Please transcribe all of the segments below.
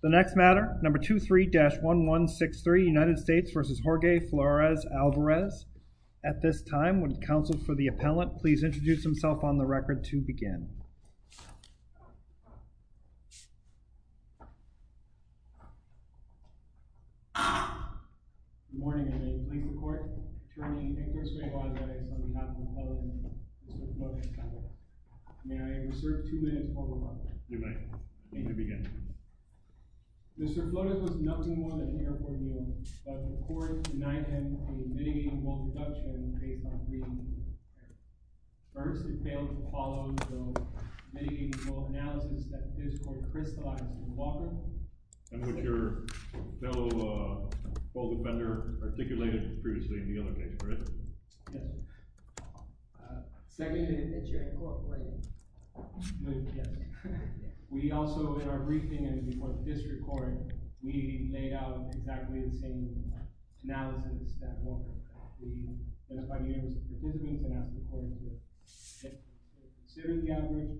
The next matter, number 23-1163, United States v. Jorge Flores-Alvarez. At this time, would the counsel for the appellant please introduce himself on the record to begin. Good morning. I'm a police reporter. Attorney Inglis Alvarez on behalf of the appellant, Mr. Flores. May I reserve two minutes for rebuttal? You may. You may begin. Mr. Flores was nothing more than here for a meal, but the court denied him a mitigating rule deduction based on three reasons. First, it failed to follow the mitigating rule analysis that his court crystallized in Walker, in which your fellow public defender articulated previously in the other case, correct? Yes, sir. Seconded that you're in court, were you? Yes. We also, in our briefing and before the district court, we laid out exactly the same analysis that Walker did. We identified the areas of the difference and asked the court to consider the average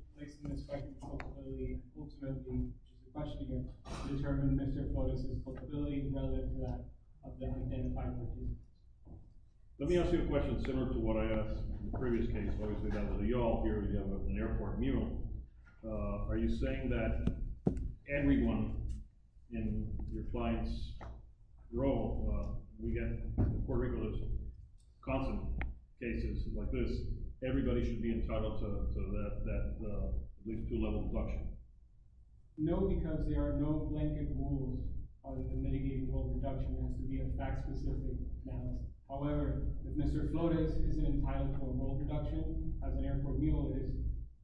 Mr. Flores' flexibility relative to that of the identified person. Let me ask you a question similar to what I asked in the previous case. Obviously, that was a y'all here. We have an airport mule. Are you saying that everyone in your client's role, we get in the court regulars' constant cases like this, everybody should be entitled to at least two levels of deduction? No, because there are no blanket rules on the mitigating rule deduction. It has to be a fact-specific analysis. However, if Mr. Flores isn't entitled to a rule deduction as an airport mule, it is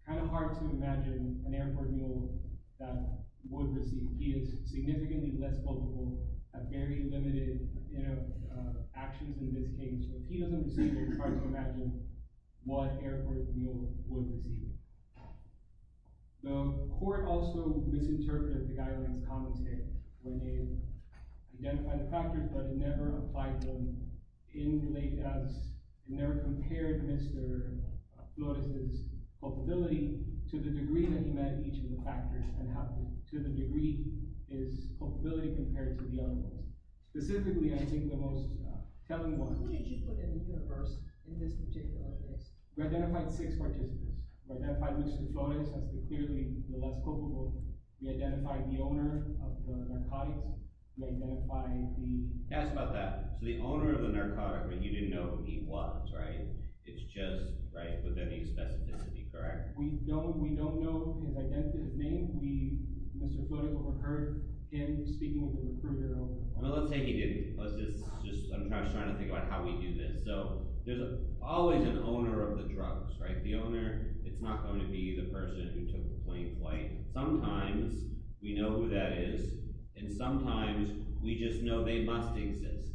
kind of hard to imagine an airport mule that would receive. He is significantly less vulnerable, has very limited actions in this case. So if he doesn't receive it, it's hard to imagine what airport mule would receive it. The court also misinterpreted the guidelines commentary when they identified the factors, but it never applied them in lay doubts. It never compared Mr. Flores' culpability to the degree that he met each of the factors and to the degree his culpability compared to the other ones. Specifically, I think the most telling one— Who did you put in the universe in this particular case? We identified six participants. We identified Mr. Flores as clearly the less culpable. We identified the owner of the narcotics. We identified the— Ask about that. So the owner of the narcotics, but you didn't know who he was, right? It's just, right, with any specificity, correct? We don't know his identity. Mr. Foote, what we heard in speaking with the recruiter— Well, let's say he didn't. I'm just trying to think about how we do this. So there's always an owner of the drugs, right? The owner, it's not going to be the person who took the point quite. Sometimes we know who that is, and sometimes we just know they must exist.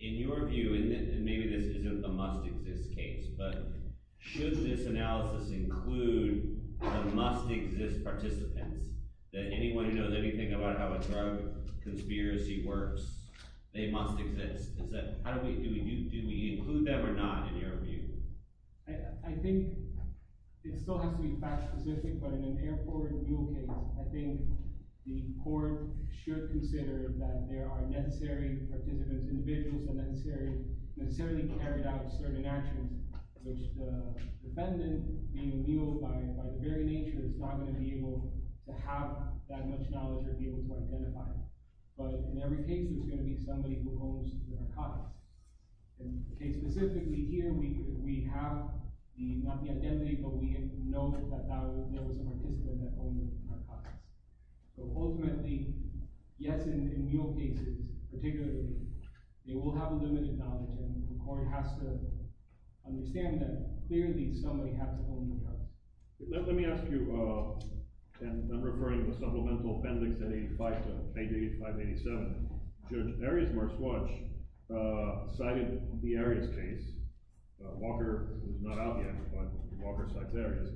In your view, and maybe this isn't the must-exist case, but should this analysis include the must-exist participants, that anyone who knows anything about how a drug conspiracy works, they must exist? How do we do it? Do we include them or not, in your view? I think it still has to be fact-specific, but in an air-forward mule case, I think the court should consider that there are necessary participants, individuals that necessarily carried out certain actions, which the defendant, being a mule by their very nature, is not going to be able to have that much knowledge or be able to identify them. But in every case, there's going to be somebody who owns the narcotics. In the case specifically here, we have not the identity, but we know that there was a participant that owned the narcotics. So ultimately, yes, in mule cases, particularly, they will have limited knowledge, and the court has to understand that clearly somebody has to own the drugs. Let me ask you, and I'm referring to the supplemental appendix 85-87. Judge Arias-Marswatch cited the Arias case. Walker is not out yet, but Walker cites Arias.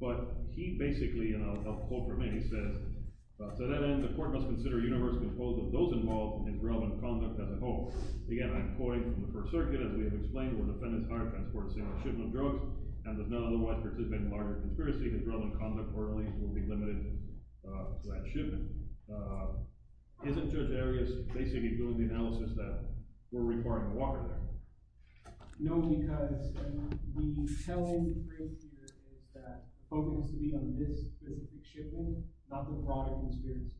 But he basically, and I'll hold for a minute, he says, to that end, the court must consider a universe composed of those involved in drug and conduct as a whole. Again, I'm coined from the First Circuit, as we have explained, where defendants hire, transport, sale, and shipment drugs, and if none otherwise participate in a larger conspiracy, the drug and conduct will be limited to that shipment. Isn't Judge Arias basically doing the analysis that we're requiring Walker there? No, because the telling phrase here is that focus should be on this specific shipment, not the broader conspiracy.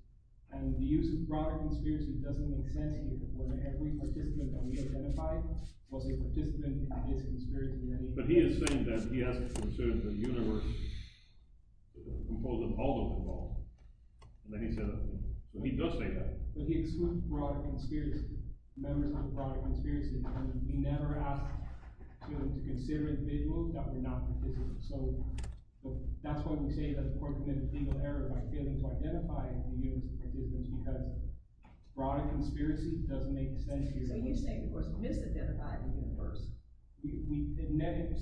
And the use of broader conspiracy doesn't make sense here, because every participant that we identified was a participant in this conspiracy. But he is saying that he has to consider the universe composed of all of the involved. And then he said that. But he does say that. But he excludes broader conspiracy, members of the broader conspiracy. And he never asks them to consider individuals that were not participants. So that's why we say that the court committed a legal error by failing to identify the universe of the participants, because broader conspiracy doesn't make sense here. So you're saying the court's misidentified the universe.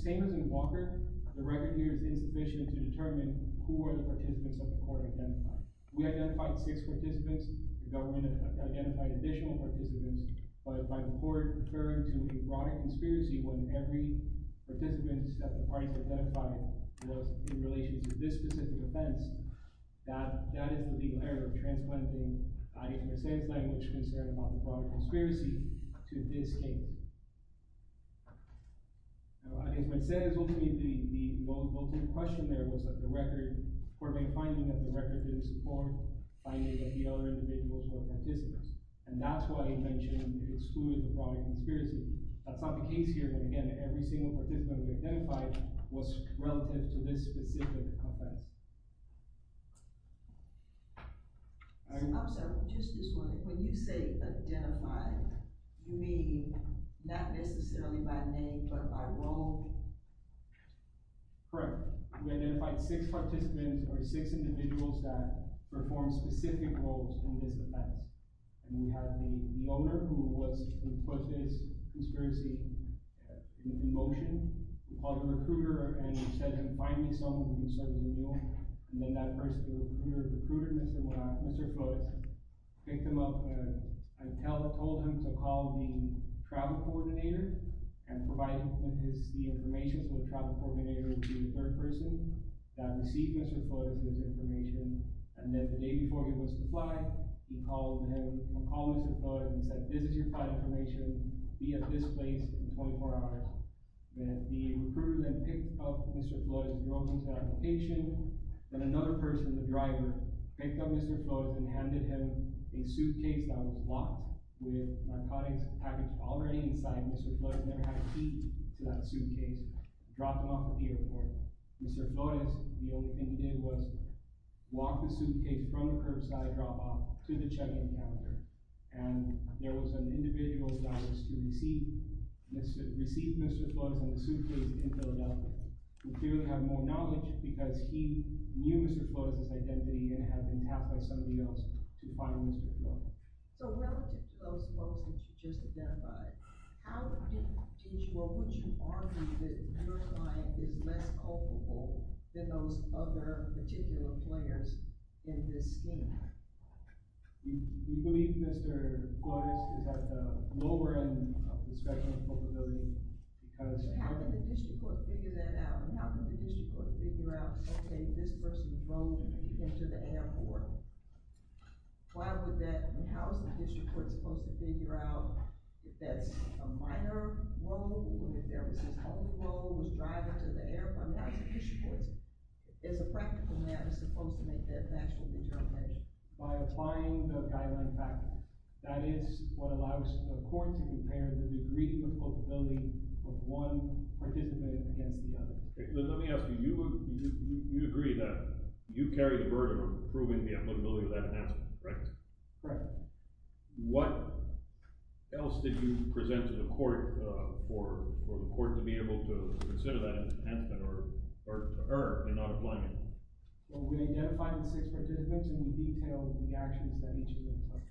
Same as in Walker, the record here is insufficient to determine who are the participants that the court identified. We identified six participants. The government identified additional participants. But the court referred to a broader conspiracy when every participant that the parties identified was in relation to this specific offense. That is the legal error of transplanting, I think, Monsanto's language concern about the broader conspiracy to this case. I think Monsanto's ultimate question there was that the record – by any other individuals or participants. And that's why he mentioned he excluded the broader conspiracy. That's not the case here. And again, every single participant we identified was relative to this specific offense. I'm sorry, just this one. When you say identified, you mean not necessarily by name but by role? Correct. We identified six participants or six individuals that performed specific roles in this offense. And we have the owner who was – who put this conspiracy in motion. We called the recruiter and said, find me someone who can serve the renewal. And then that person, the recruiter, recruited Mr. Flores, picked him up, and told him to call the travel coordinator and provide him with the information so the travel coordinator would be the third person that received Mr. Flores' information. And then the day before he was to fly, he called him and called Mr. Flores and said, this is your flight information. Be at this place in 24 hours. Then the recruiter then picked up Mr. Flores and drove him to that location. Then another person, the driver, picked up Mr. Flores and handed him a suitcase that was locked with narcotics packaged already inside Mr. Flores because he had never had a key to that suitcase, dropped him off at the airport. Mr. Flores, the only thing he did was lock the suitcase from the curbside drop-off to the check-in counter. And there was an individual that was to receive Mr. Flores in the suitcase in Philadelphia. We clearly have more knowledge because he knew Mr. Flores' identity and had been tapped by somebody else to find Mr. Flores. So relative to those folks that you just identified, how would you argue that your client is less culpable than those other particular players in this scheme? We believe Mr. Flores is at the lower end of the spectrum of culpability. How can the district court figure that out? How can the district court figure out, okay, this person drove him and he came to the airport? How is the district court supposed to figure out if that's a minor role or if there was his home role, was driving to the airport? How is the district court, as a practical matter, supposed to make that factual determination? By applying the guideline factor. That is what allows a court to compare the degree of culpability of one participant against the other. Let me ask you, you agree that you carry the burden of proving the applicability of that enhancement, right? Right. What else did you present to the court for the court to be able to consider that enhancement or to err in not applying it? Well, we identified the six participants and we detailed the actions that each of them took.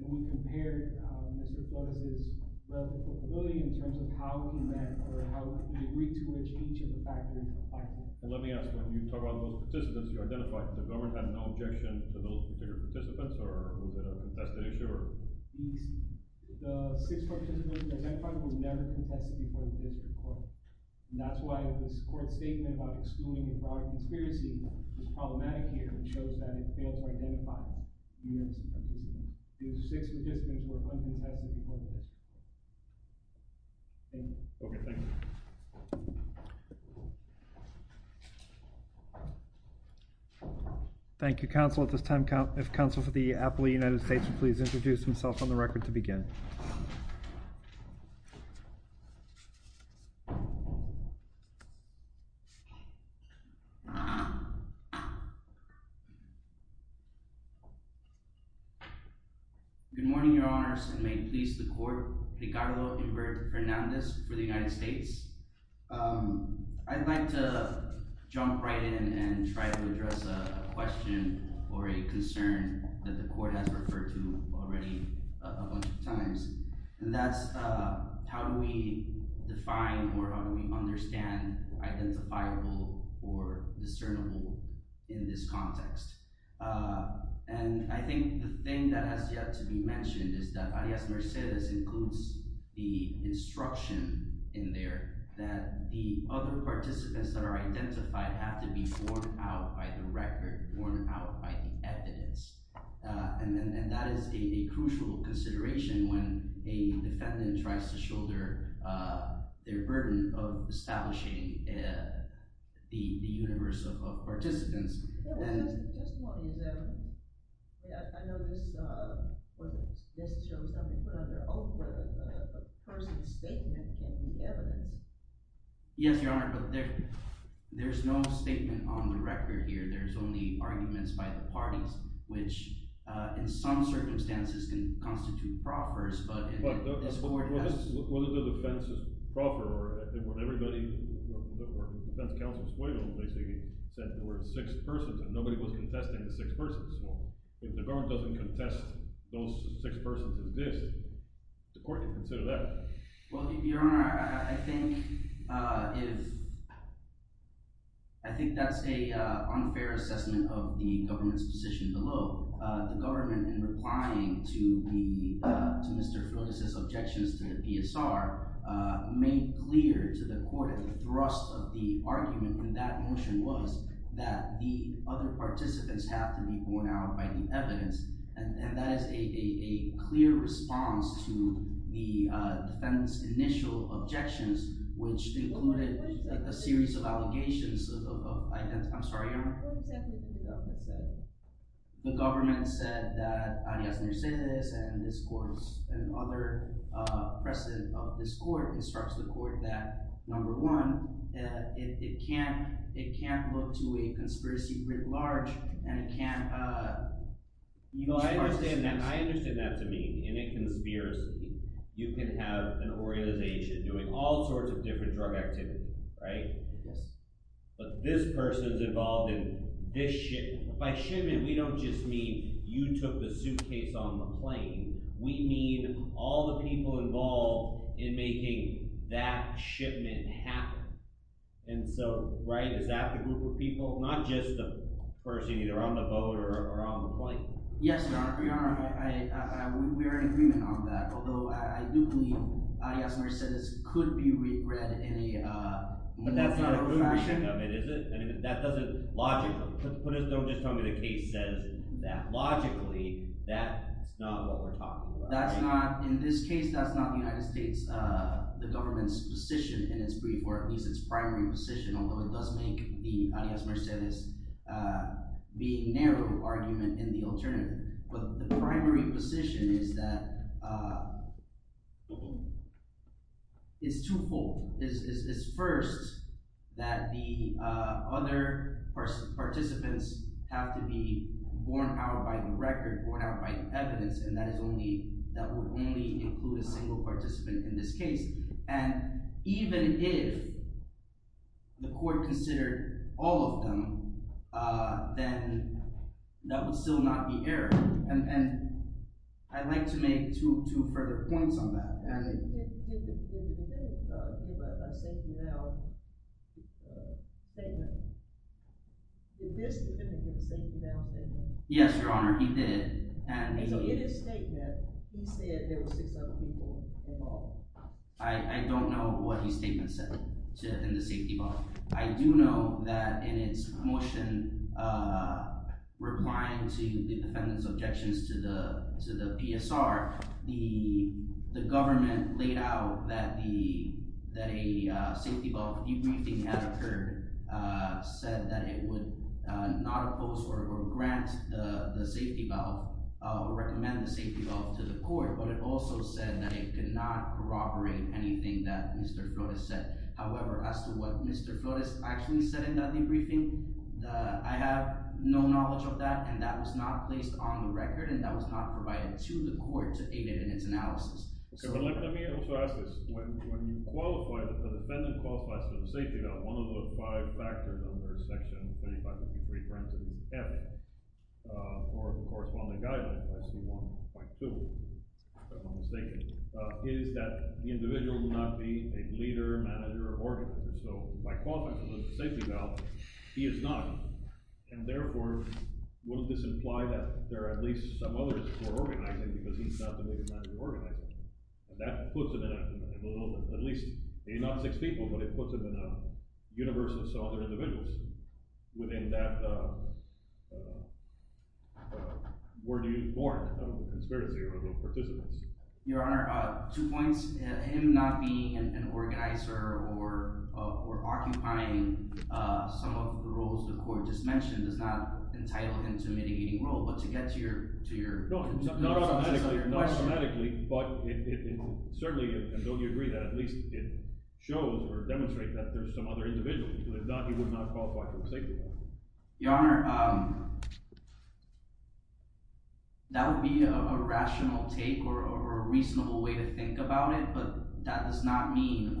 And we compared Mr. Flores' level of culpability in terms of how we met or how we agreed to each of the factors. Let me ask you, when you talk about those participants, you identified that the government had no objection to those particular participants, or was it a contested issue? The six participants identified were never contested before the district court. And that's why this court statement about excluding a product conspiracy is problematic here. It shows that it failed to identify the units of participants. The six participants were uncontested before the district court. Thank you. Okay, thank you. Thank you, Counsel. At this time, if Counsel for the Appellee of the United States would please introduce himself on the record to begin. Good morning, Your Honors, and may it please the court, Ricardo Humberto Fernandez for the United States. I'd like to jump right in and try to address a question or a concern that the court has referred to already a bunch of times, and that's how do we define or how do we understand identifiable or discernible in this context. And I think the thing that has yet to be mentioned is that Arias-Mercedes includes the instruction in there that the other participants that are identified have to be borne out by the record, borne out by the evidence. And that is a crucial consideration when a defendant tries to shoulder their burden of establishing the universe of participants. Just one is, I know this shows something, but on their own word, a person's statement can be evidence. Yes, Your Honor, but there's no statement on the record here. There's only arguments by the parties, which in some circumstances can constitute proffers, but in this court… Whether the defense is proffer or everybody, the defense counsel basically said there were six persons and nobody was contesting the six persons. So if the government doesn't contest those six persons exist, the court can consider that. Well, Your Honor, I think that's an unfair assessment of the government's position below. The government, in replying to Mr. Freitas' objections to the PSR, made clear to the court the thrust of the argument in that motion was that the other participants have to be borne out by the evidence. And that is a clear response to the defendant's initial objections, which included a series of allegations of… I'm sorry, Your Honor. What exactly did the government say? The government said that Arias Mercedes and this court and other precedent of this court constructs the court that, number one, it can't look to a conspiracy writ large, and it can't… I understand that. I understand that to mean in a conspiracy you can have an organization doing all sorts of different drug activity, right? Yes. But this person's involved in this shit. By shit, we don't just mean you took the suitcase on the plane. We mean all the people involved in making that shipment happen. And so, right, is that the group of people? Not just the person either on the boat or on the plane. Yes, Your Honor. We are in agreement on that, although I do believe Arias Mercedes could be read in a… But that's not a conclusion of it, is it? I mean, that doesn't logically… Don't just tell me the case says that. Logically, that's not what we're talking about. That's not – in this case, that's not the United States, the government's position in its brief, or at least its primary position, although it does make the Arias Mercedes being narrow argument in the alternative. But the primary position is that it's twofold. It's first that the other participants have to be borne out by the record, borne out by the evidence, and that is only – that would only include a single participant in this case. And even if the court considered all of them, then that would still not be error. And I'd like to make two further points on that. He did give a safety valve statement. Did this defendant give a safety valve statement? Yes, Your Honor, he did. And so in his statement, he said there were six other people involved. I don't know what his statement said in the safety valve. I do know that in its motion replying to the defendant's objections to the PSR, the government laid out that a safety valve debriefing had occurred, said that it would not oppose or grant the safety valve or recommend the safety valve to the court, but it also said that it could not corroborate anything that Mr. Flores said. However, as to what Mr. Flores actually said in that debriefing, I have no knowledge of that, and that was not placed on the record, and that was not provided to the court to aid it in its analysis. Let me also ask this. When you qualify that the defendant qualifies for the safety valve, one of the five factors under Section 2553, for instance, F, or the corresponding guideline, C1.2, if I'm not mistaken, is that the individual will not be a leader, manager, or organizer. So by qualifying for the safety valve, he is not. And therefore, wouldn't this imply that there are at least some others who are organizing because he's not the leader, manager, or organizer? And that puts him in a—at least, A, not six people, but it puts him in a universe of some other individuals. Within that, where do you warrant the conspiracy of those participants? Your Honor, two points. Him not being an organizer or occupying some of the roles the court just mentioned is not entitled him to a mitigating role. But to get to your— No, not automatically, but it certainly—and don't you agree that at least it shows or demonstrates that there are some other individuals. If not, he would not qualify for the safety valve. Your Honor, that would be a rational take or a reasonable way to think about it, but that does not mean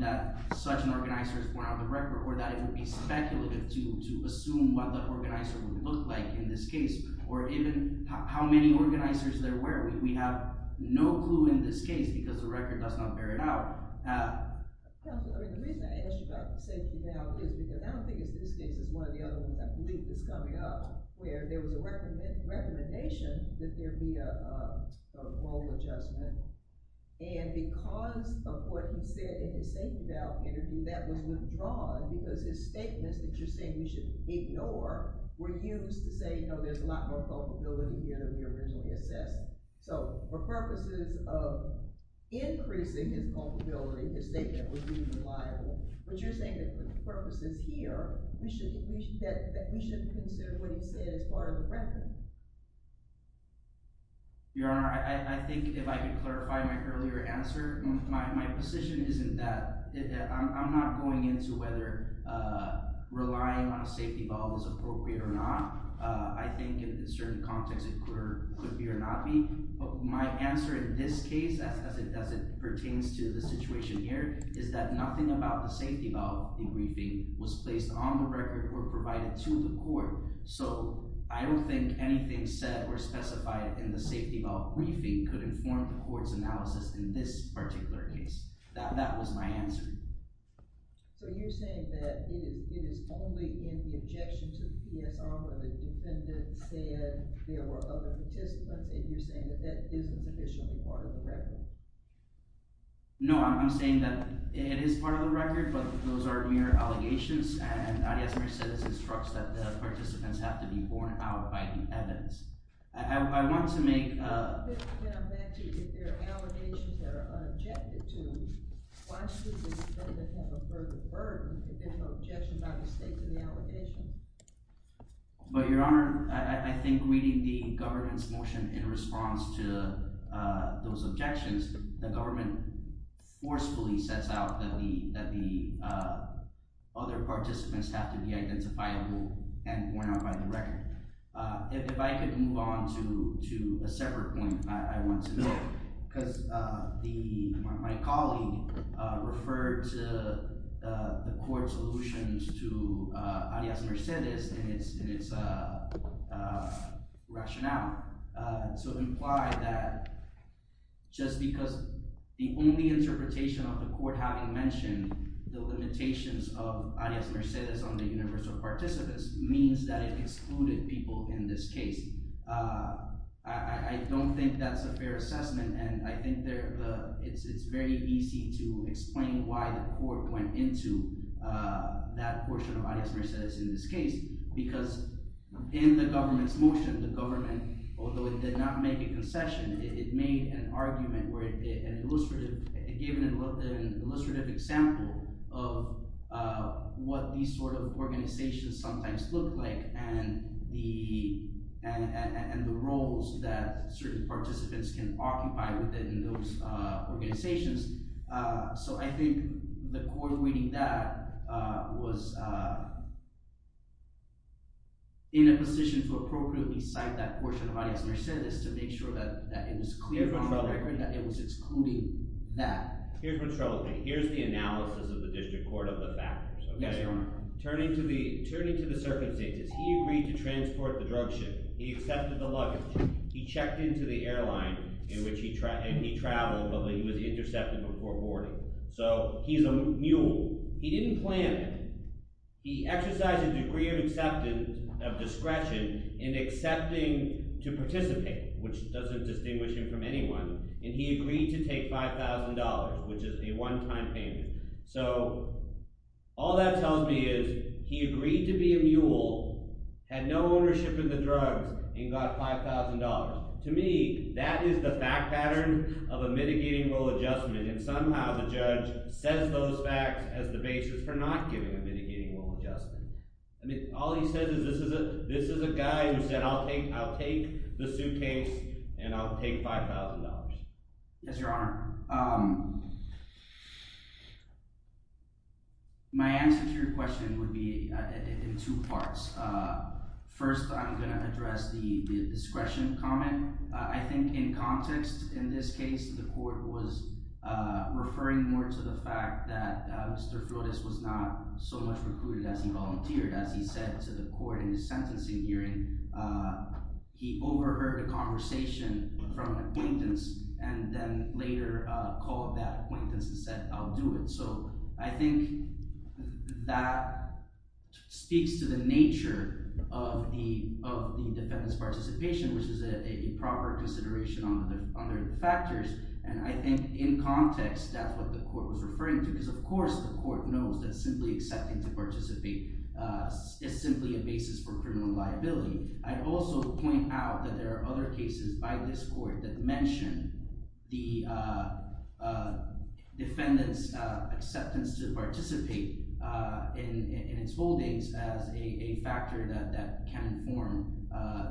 that such an organizer is born out of the record or that it would be speculative to assume what the organizer would look like in this case or even how many organizers there were. We have no clue in this case because the record does not bear it out. Counsel, I mean, the reason I asked you about the safety valve is because I don't think this case is one of the other ones I believe that's coming up where there was a recommendation that there be a role adjustment. And because of what he said in his safety valve interview, that was withdrawn because his statements that you're saying we should ignore were used to say, you know, there's a lot more culpability here than we originally assessed. So for purposes of increasing his culpability, his statement would be reliable. But you're saying that for the purposes here, we should consider what he said as part of the record. Your Honor, I think if I could clarify my earlier answer, my position isn't that. I'm not going into whether relying on a safety valve is appropriate or not. I think in certain contexts it could be or not be. My answer in this case, as it pertains to the situation here, is that nothing about the safety valve in briefing was placed on the record or provided to the court. So I don't think anything said or specified in the safety valve briefing could inform the court's analysis in this particular case. That was my answer. So you're saying that it is only in the objection to the PSR where the defendant said there were other participants, and you're saying that that isn't officially part of the record? No, I'm saying that it is part of the record, but those are mere allegations, and Arias Mercedes instructs that the participants have to be borne out by the evidence. I want to make— I'm going to come back to if there are allegations that are objected to, why should the defendant have a further burden if there's no objection by the state to the allegation? Your Honor, I think reading the government's motion in response to those objections, the government forcefully sets out that the other participants have to be identifiable and borne out by the record. If I could move on to a separate point I want to make, because my colleague referred to the court's allusions to Arias Mercedes in its rationale to imply that just because the only interpretation of the court having mentioned the limitations of Arias Mercedes on the universe of participants means that it excluded people in this case. I don't think that's a fair assessment, and I think it's very easy to explain why the court went into that portion of Arias Mercedes in this case, because in the government's motion, the government, although it did not make a concession, it made an argument where it gave an illustrative example of what these sort of organizations sometimes look like and the roles that certain participants can occupy within those organizations. So I think the court reading that was in a position to appropriately cite that portion of Arias Mercedes to make sure that it was clear from the record that it was excluding that. Here's what's troubling me. Here's the analysis of the district court of the factors. Yes, Your Honor. Turning to the circumstances, he agreed to transport the drug shipment. He accepted the luggage. He checked into the airline in which he traveled, but he was intercepted before boarding. So he's a mule. He didn't plan it. He exercised a degree of acceptance, of discretion, in accepting to participate, which doesn't distinguish him from anyone, and he agreed to take $5,000, which is the one-time payment. So all that tells me is he agreed to be a mule, had no ownership of the drugs, and got $5,000. To me, that is the fact pattern of a mitigating rule adjustment, and somehow the judge says those facts as the basis for not giving a mitigating rule adjustment. I mean, all he says is this is a guy who said I'll take the suitcase and I'll take $5,000. Yes, Your Honor. My answer to your question would be in two parts. First, I'm going to address the discretion comment. I think in context, in this case, the court was referring more to the fact that Mr. Flores was not so much recruited as he volunteered. As he said to the court in his sentencing hearing, he overheard a conversation from an acquaintance and then later called that acquaintance and said I'll do it. So I think that speaks to the nature of the defendant's participation, which is a proper consideration under the factors, and I think in context, that's what the court was referring to because of course the court knows that simply accepting to participate is simply a basis for criminal liability. I'd also point out that there are other cases by this court that mention the defendant's acceptance to participate in its holdings as a factor that can form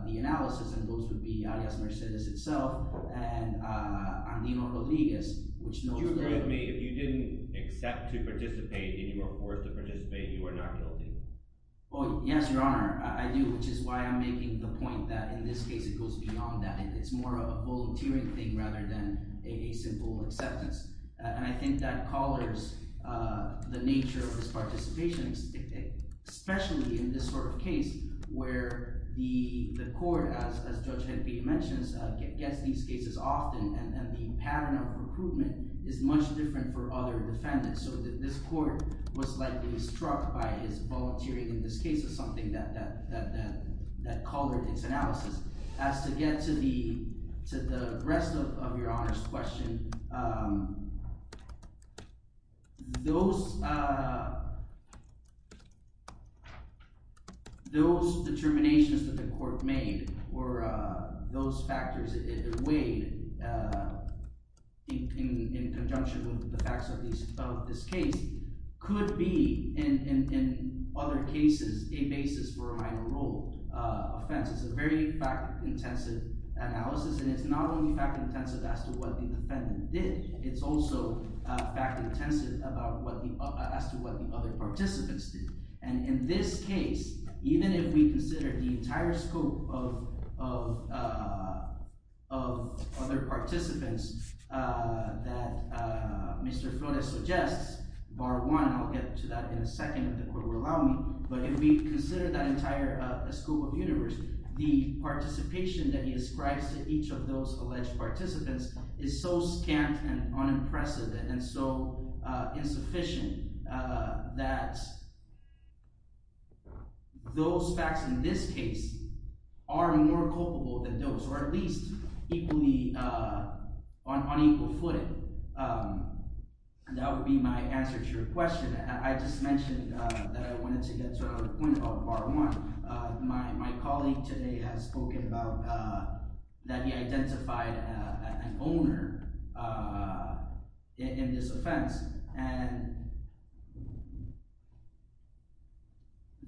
the analysis, and those would be Alias Mercedes itself and Andino Rodriguez, which knows that— Excuse me. If you didn't accept to participate and you were forced to participate, you are not guilty. Oh, yes, Your Honor, I do, which is why I'm making the point that in this case it goes beyond that. It's more of a volunteering thing rather than a simple acceptance, and I think that colors the nature of his participation, especially in this sort of case where the court, as Judge Helpe mentions, gets these cases often, and the pattern of recruitment is much different for other defendants. So this court was likely struck by his volunteering in this case as something that colored its analysis. As to get to the rest of Your Honor's question, those determinations that the court made or those factors that weighed in conjunction with the facts of this case could be, in other cases, a basis for a minor rule offense. It's a very fact-intensive analysis, and it's not only fact-intensive as to what the defendant did. It's also fact-intensive as to what the other participants did. And in this case, even if we consider the entire scope of other participants that Mr. Flores suggests, bar one, I'll get to that in a second if the court will allow me, but if we consider that entire scope of universe, the participation that he ascribes to each of those alleged participants is so scant and unimpressive and so insufficient that those facts in this case are more culpable than those, or at least on equal footing. That would be my answer to your question. I just mentioned that I wanted to get to another point about bar one. My colleague today has spoken about – that he identified an owner in this offense, and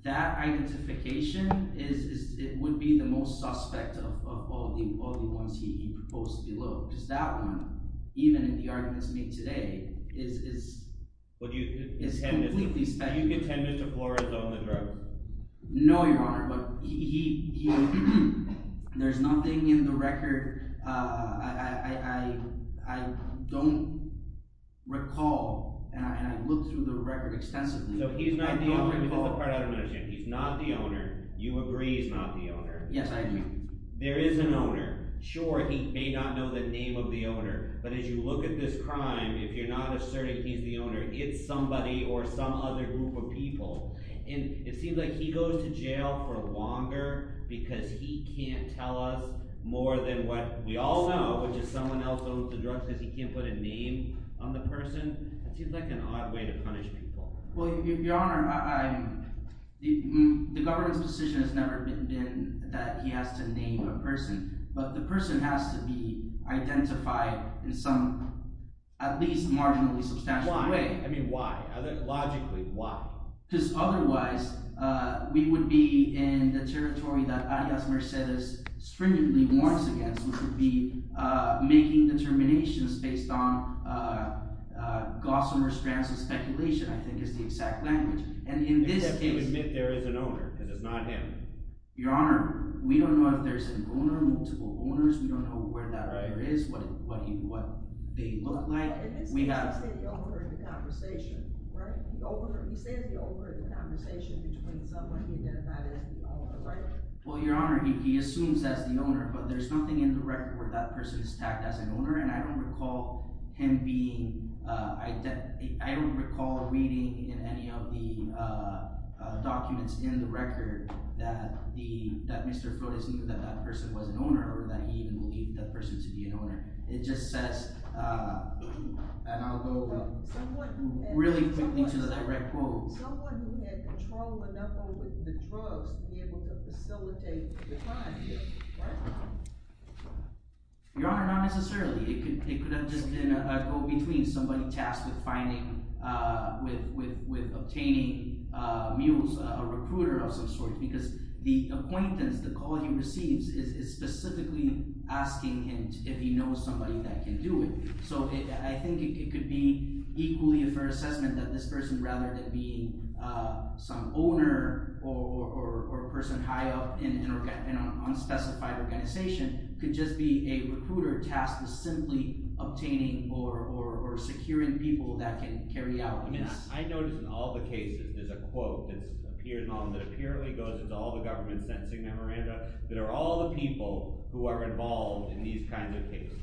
that identification would be the most suspect of all the ones he proposed below because that one, even in the arguments made today, is completely speculative. Do you contend Mr. Flores owned the drugs? No, Your Honor, but he – there's nothing in the record I don't recall, and I looked through the record extensively. So he's not the owner. That's the part I don't understand. He's not the owner. You agree he's not the owner. Yes, I agree. There is an owner. Sure, he may not know the name of the owner, but as you look at this crime, if you're not asserting he's the owner, it's somebody or some other group of people. And it seems like he goes to jail for longer because he can't tell us more than what we all know, which is someone else owns the drugs because he can't put a name on the person. It seems like an odd way to punish people. Well, Your Honor, the government's position has never been that he has to name a person, but the person has to be identified in some at least marginally substantial way. Why? I mean why? Logically, why? Because otherwise we would be in the territory that Arias Mercedes stringently warns against. We would be making determinations based on gossamer strands of speculation I think is the exact language. And in this case… Except he would admit there is an owner because it's not him. Your Honor, we don't know if there's an owner, multiple owners. We don't know where that owner is, what they look like. He said the owner in the conversation, right? He said the owner in the conversation between someone he identified as the owner, right? Well, Your Honor, he assumes that's the owner, but there's nothing in the record where that person is tagged as an owner, and I don't recall him being – I don't recall reading in any of the documents in the record that Mr. Flores knew that that person was an owner or that he even believed that person to be an owner. It just says – and I'll go really quickly to the direct quote. Someone who had control enough over the drugs to be able to facilitate the crime, right? Your Honor, not necessarily. It could have just been a quote between somebody tasked with finding – with obtaining mules, a recruiter of some sort, because the appointments, the call he receives is specifically asking him if he knows somebody that can do it. So I think it could be equally a fair assessment that this person, rather than being some owner or a person high up in an unspecified organization, could just be a recruiter tasked with simply obtaining or securing people that can carry out this. I notice in all the cases there's a quote that appears in all – that apparently goes into all the government sentencing memoranda that are all the people who are involved in these kinds of cases.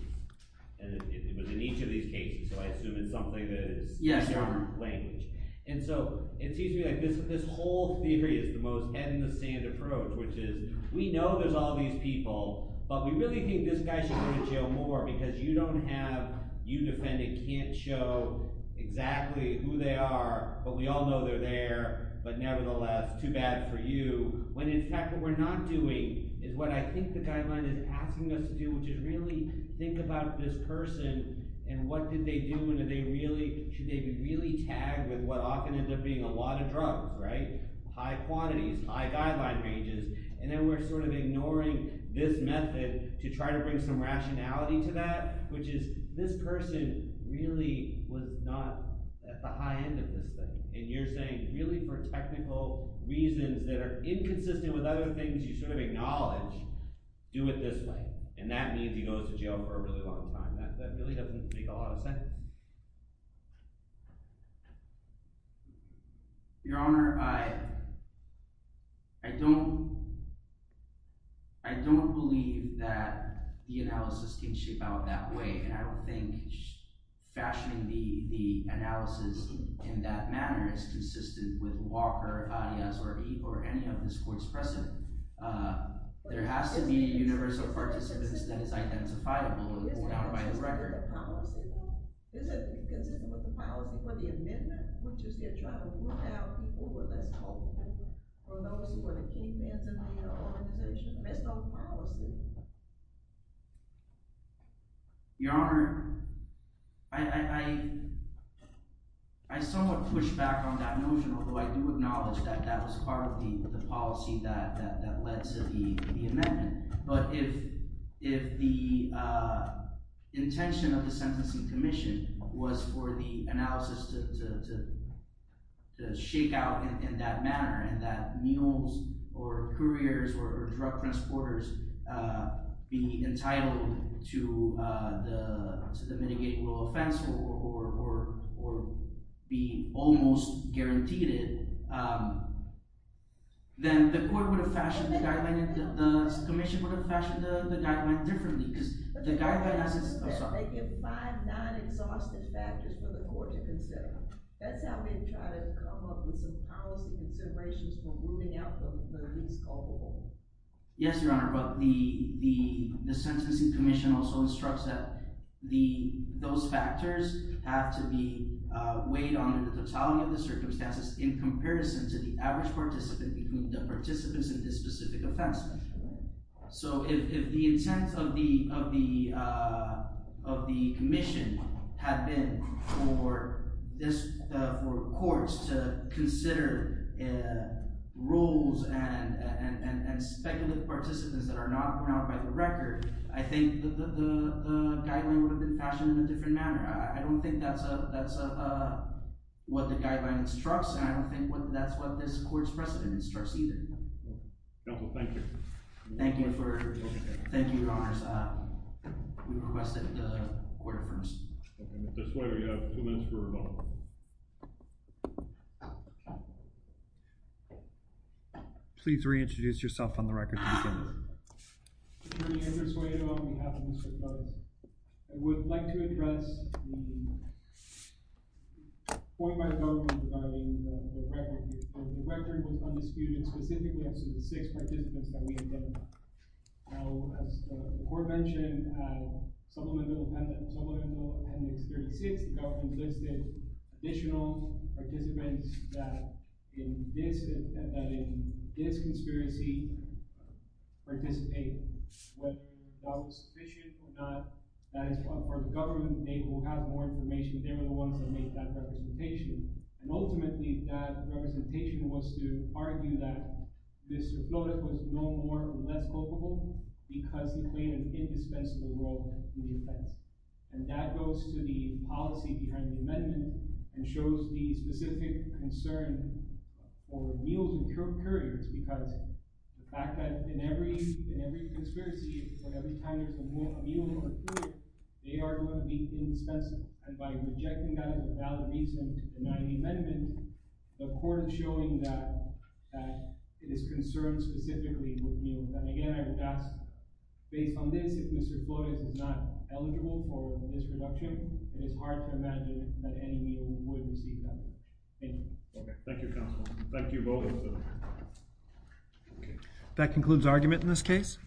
And it was in each of these cases, so I assume it's something that is in your language. And so it seems to me like this whole theory is the most head-in-the-sand approach, which is we know there's all these people, but we really think this guy should go to jail more because you don't have – you, defendant, can't show exactly who they are, but we all know they're there, but nevertheless, too bad for you, when in fact what we're not doing is what I think the guideline is asking us to do, which is really think about this person and what did they do, and are they really – should they be really tagged with what often ends up being a lot of drugs, right? High quantities, high guideline ranges, and then we're sort of ignoring this method to try to bring some rationality to that, which is this person really was not at the high end of this thing. And you're saying really for technical reasons that are inconsistent with other things you sort of acknowledge, do it this way. And that means he goes to jail for a really long time. That really doesn't make a lot of sense. Your Honor, I don't believe that the analysis can shape out that way, and I don't think fashioning the analysis in that manner is consistent with Walker, Arias, or Eve, or any of the courts present. There has to be a universal participant that is identifiable and borne out by the record. Is it inconsistent with the policy for the amendment, which is they're trying to rule out people who are less hopeful or those who are the key fans of the organization? There's no policy. Your Honor, I somewhat push back on that notion, although I do acknowledge that that was part of the policy that led to the amendment. But if the intention of the Sentencing Commission was for the analysis to shake out in that manner and that mules or couriers or drug transporters be entitled to the mitigating rule of fence or be almost guaranteed it, then the court would have fashioned the guideline and the commission would have fashioned the guideline differently. They give five non-exhaustive factors for the court to consider. That's how they try to come up with some policy considerations for ruling out the least culpable. Yes, Your Honor, but the Sentencing Commission also instructs that those factors have to be weighed on in the totality of the circumstances in comparison to the average participant between the participants in this specific offense. So if the intent of the commission had been for courts to consider rules and speculative participants that are not brought out by the record, I think the guideline would have been fashioned in a different manner. I don't think that's what the guideline instructs, and I don't think that's what this court's precedent instructs either. Counsel, thank you. Thank you, Your Honors. We request that the court affirms. Okay, Mr. Suedo, you have two minutes for rebuttal. Please reintroduce yourself on the record to begin. Your Honor, I would like to address the point by the government regarding the record. The record was undisputed specifically of the six participants that we identified. Now, as the court mentioned, in Supplemental Appendix 36, the government listed additional participants that in this conspiracy participate. Whether that was sufficient or not, that is for the government to be able to have more information. They were the ones that made that representation. And ultimately, that representation was to argue that Mr. Flora was no more or less culpable because he played an indispensable role in the offense. And that goes to the policy behind the amendment and shows the specific concern for meals and curries, because the fact that in every conspiracy, that every time there's a meal in court, they are going to be indispensable. And by rejecting that without a reason to deny the amendment, the court is showing that it is concerned specifically with meals. And again, I would ask, based on this, if Mr. Flores is not eligible for this reduction, it is hard to imagine that any meal would receive that. Thank you. Thank you, Counselor. Thank you both. That concludes argument in this case.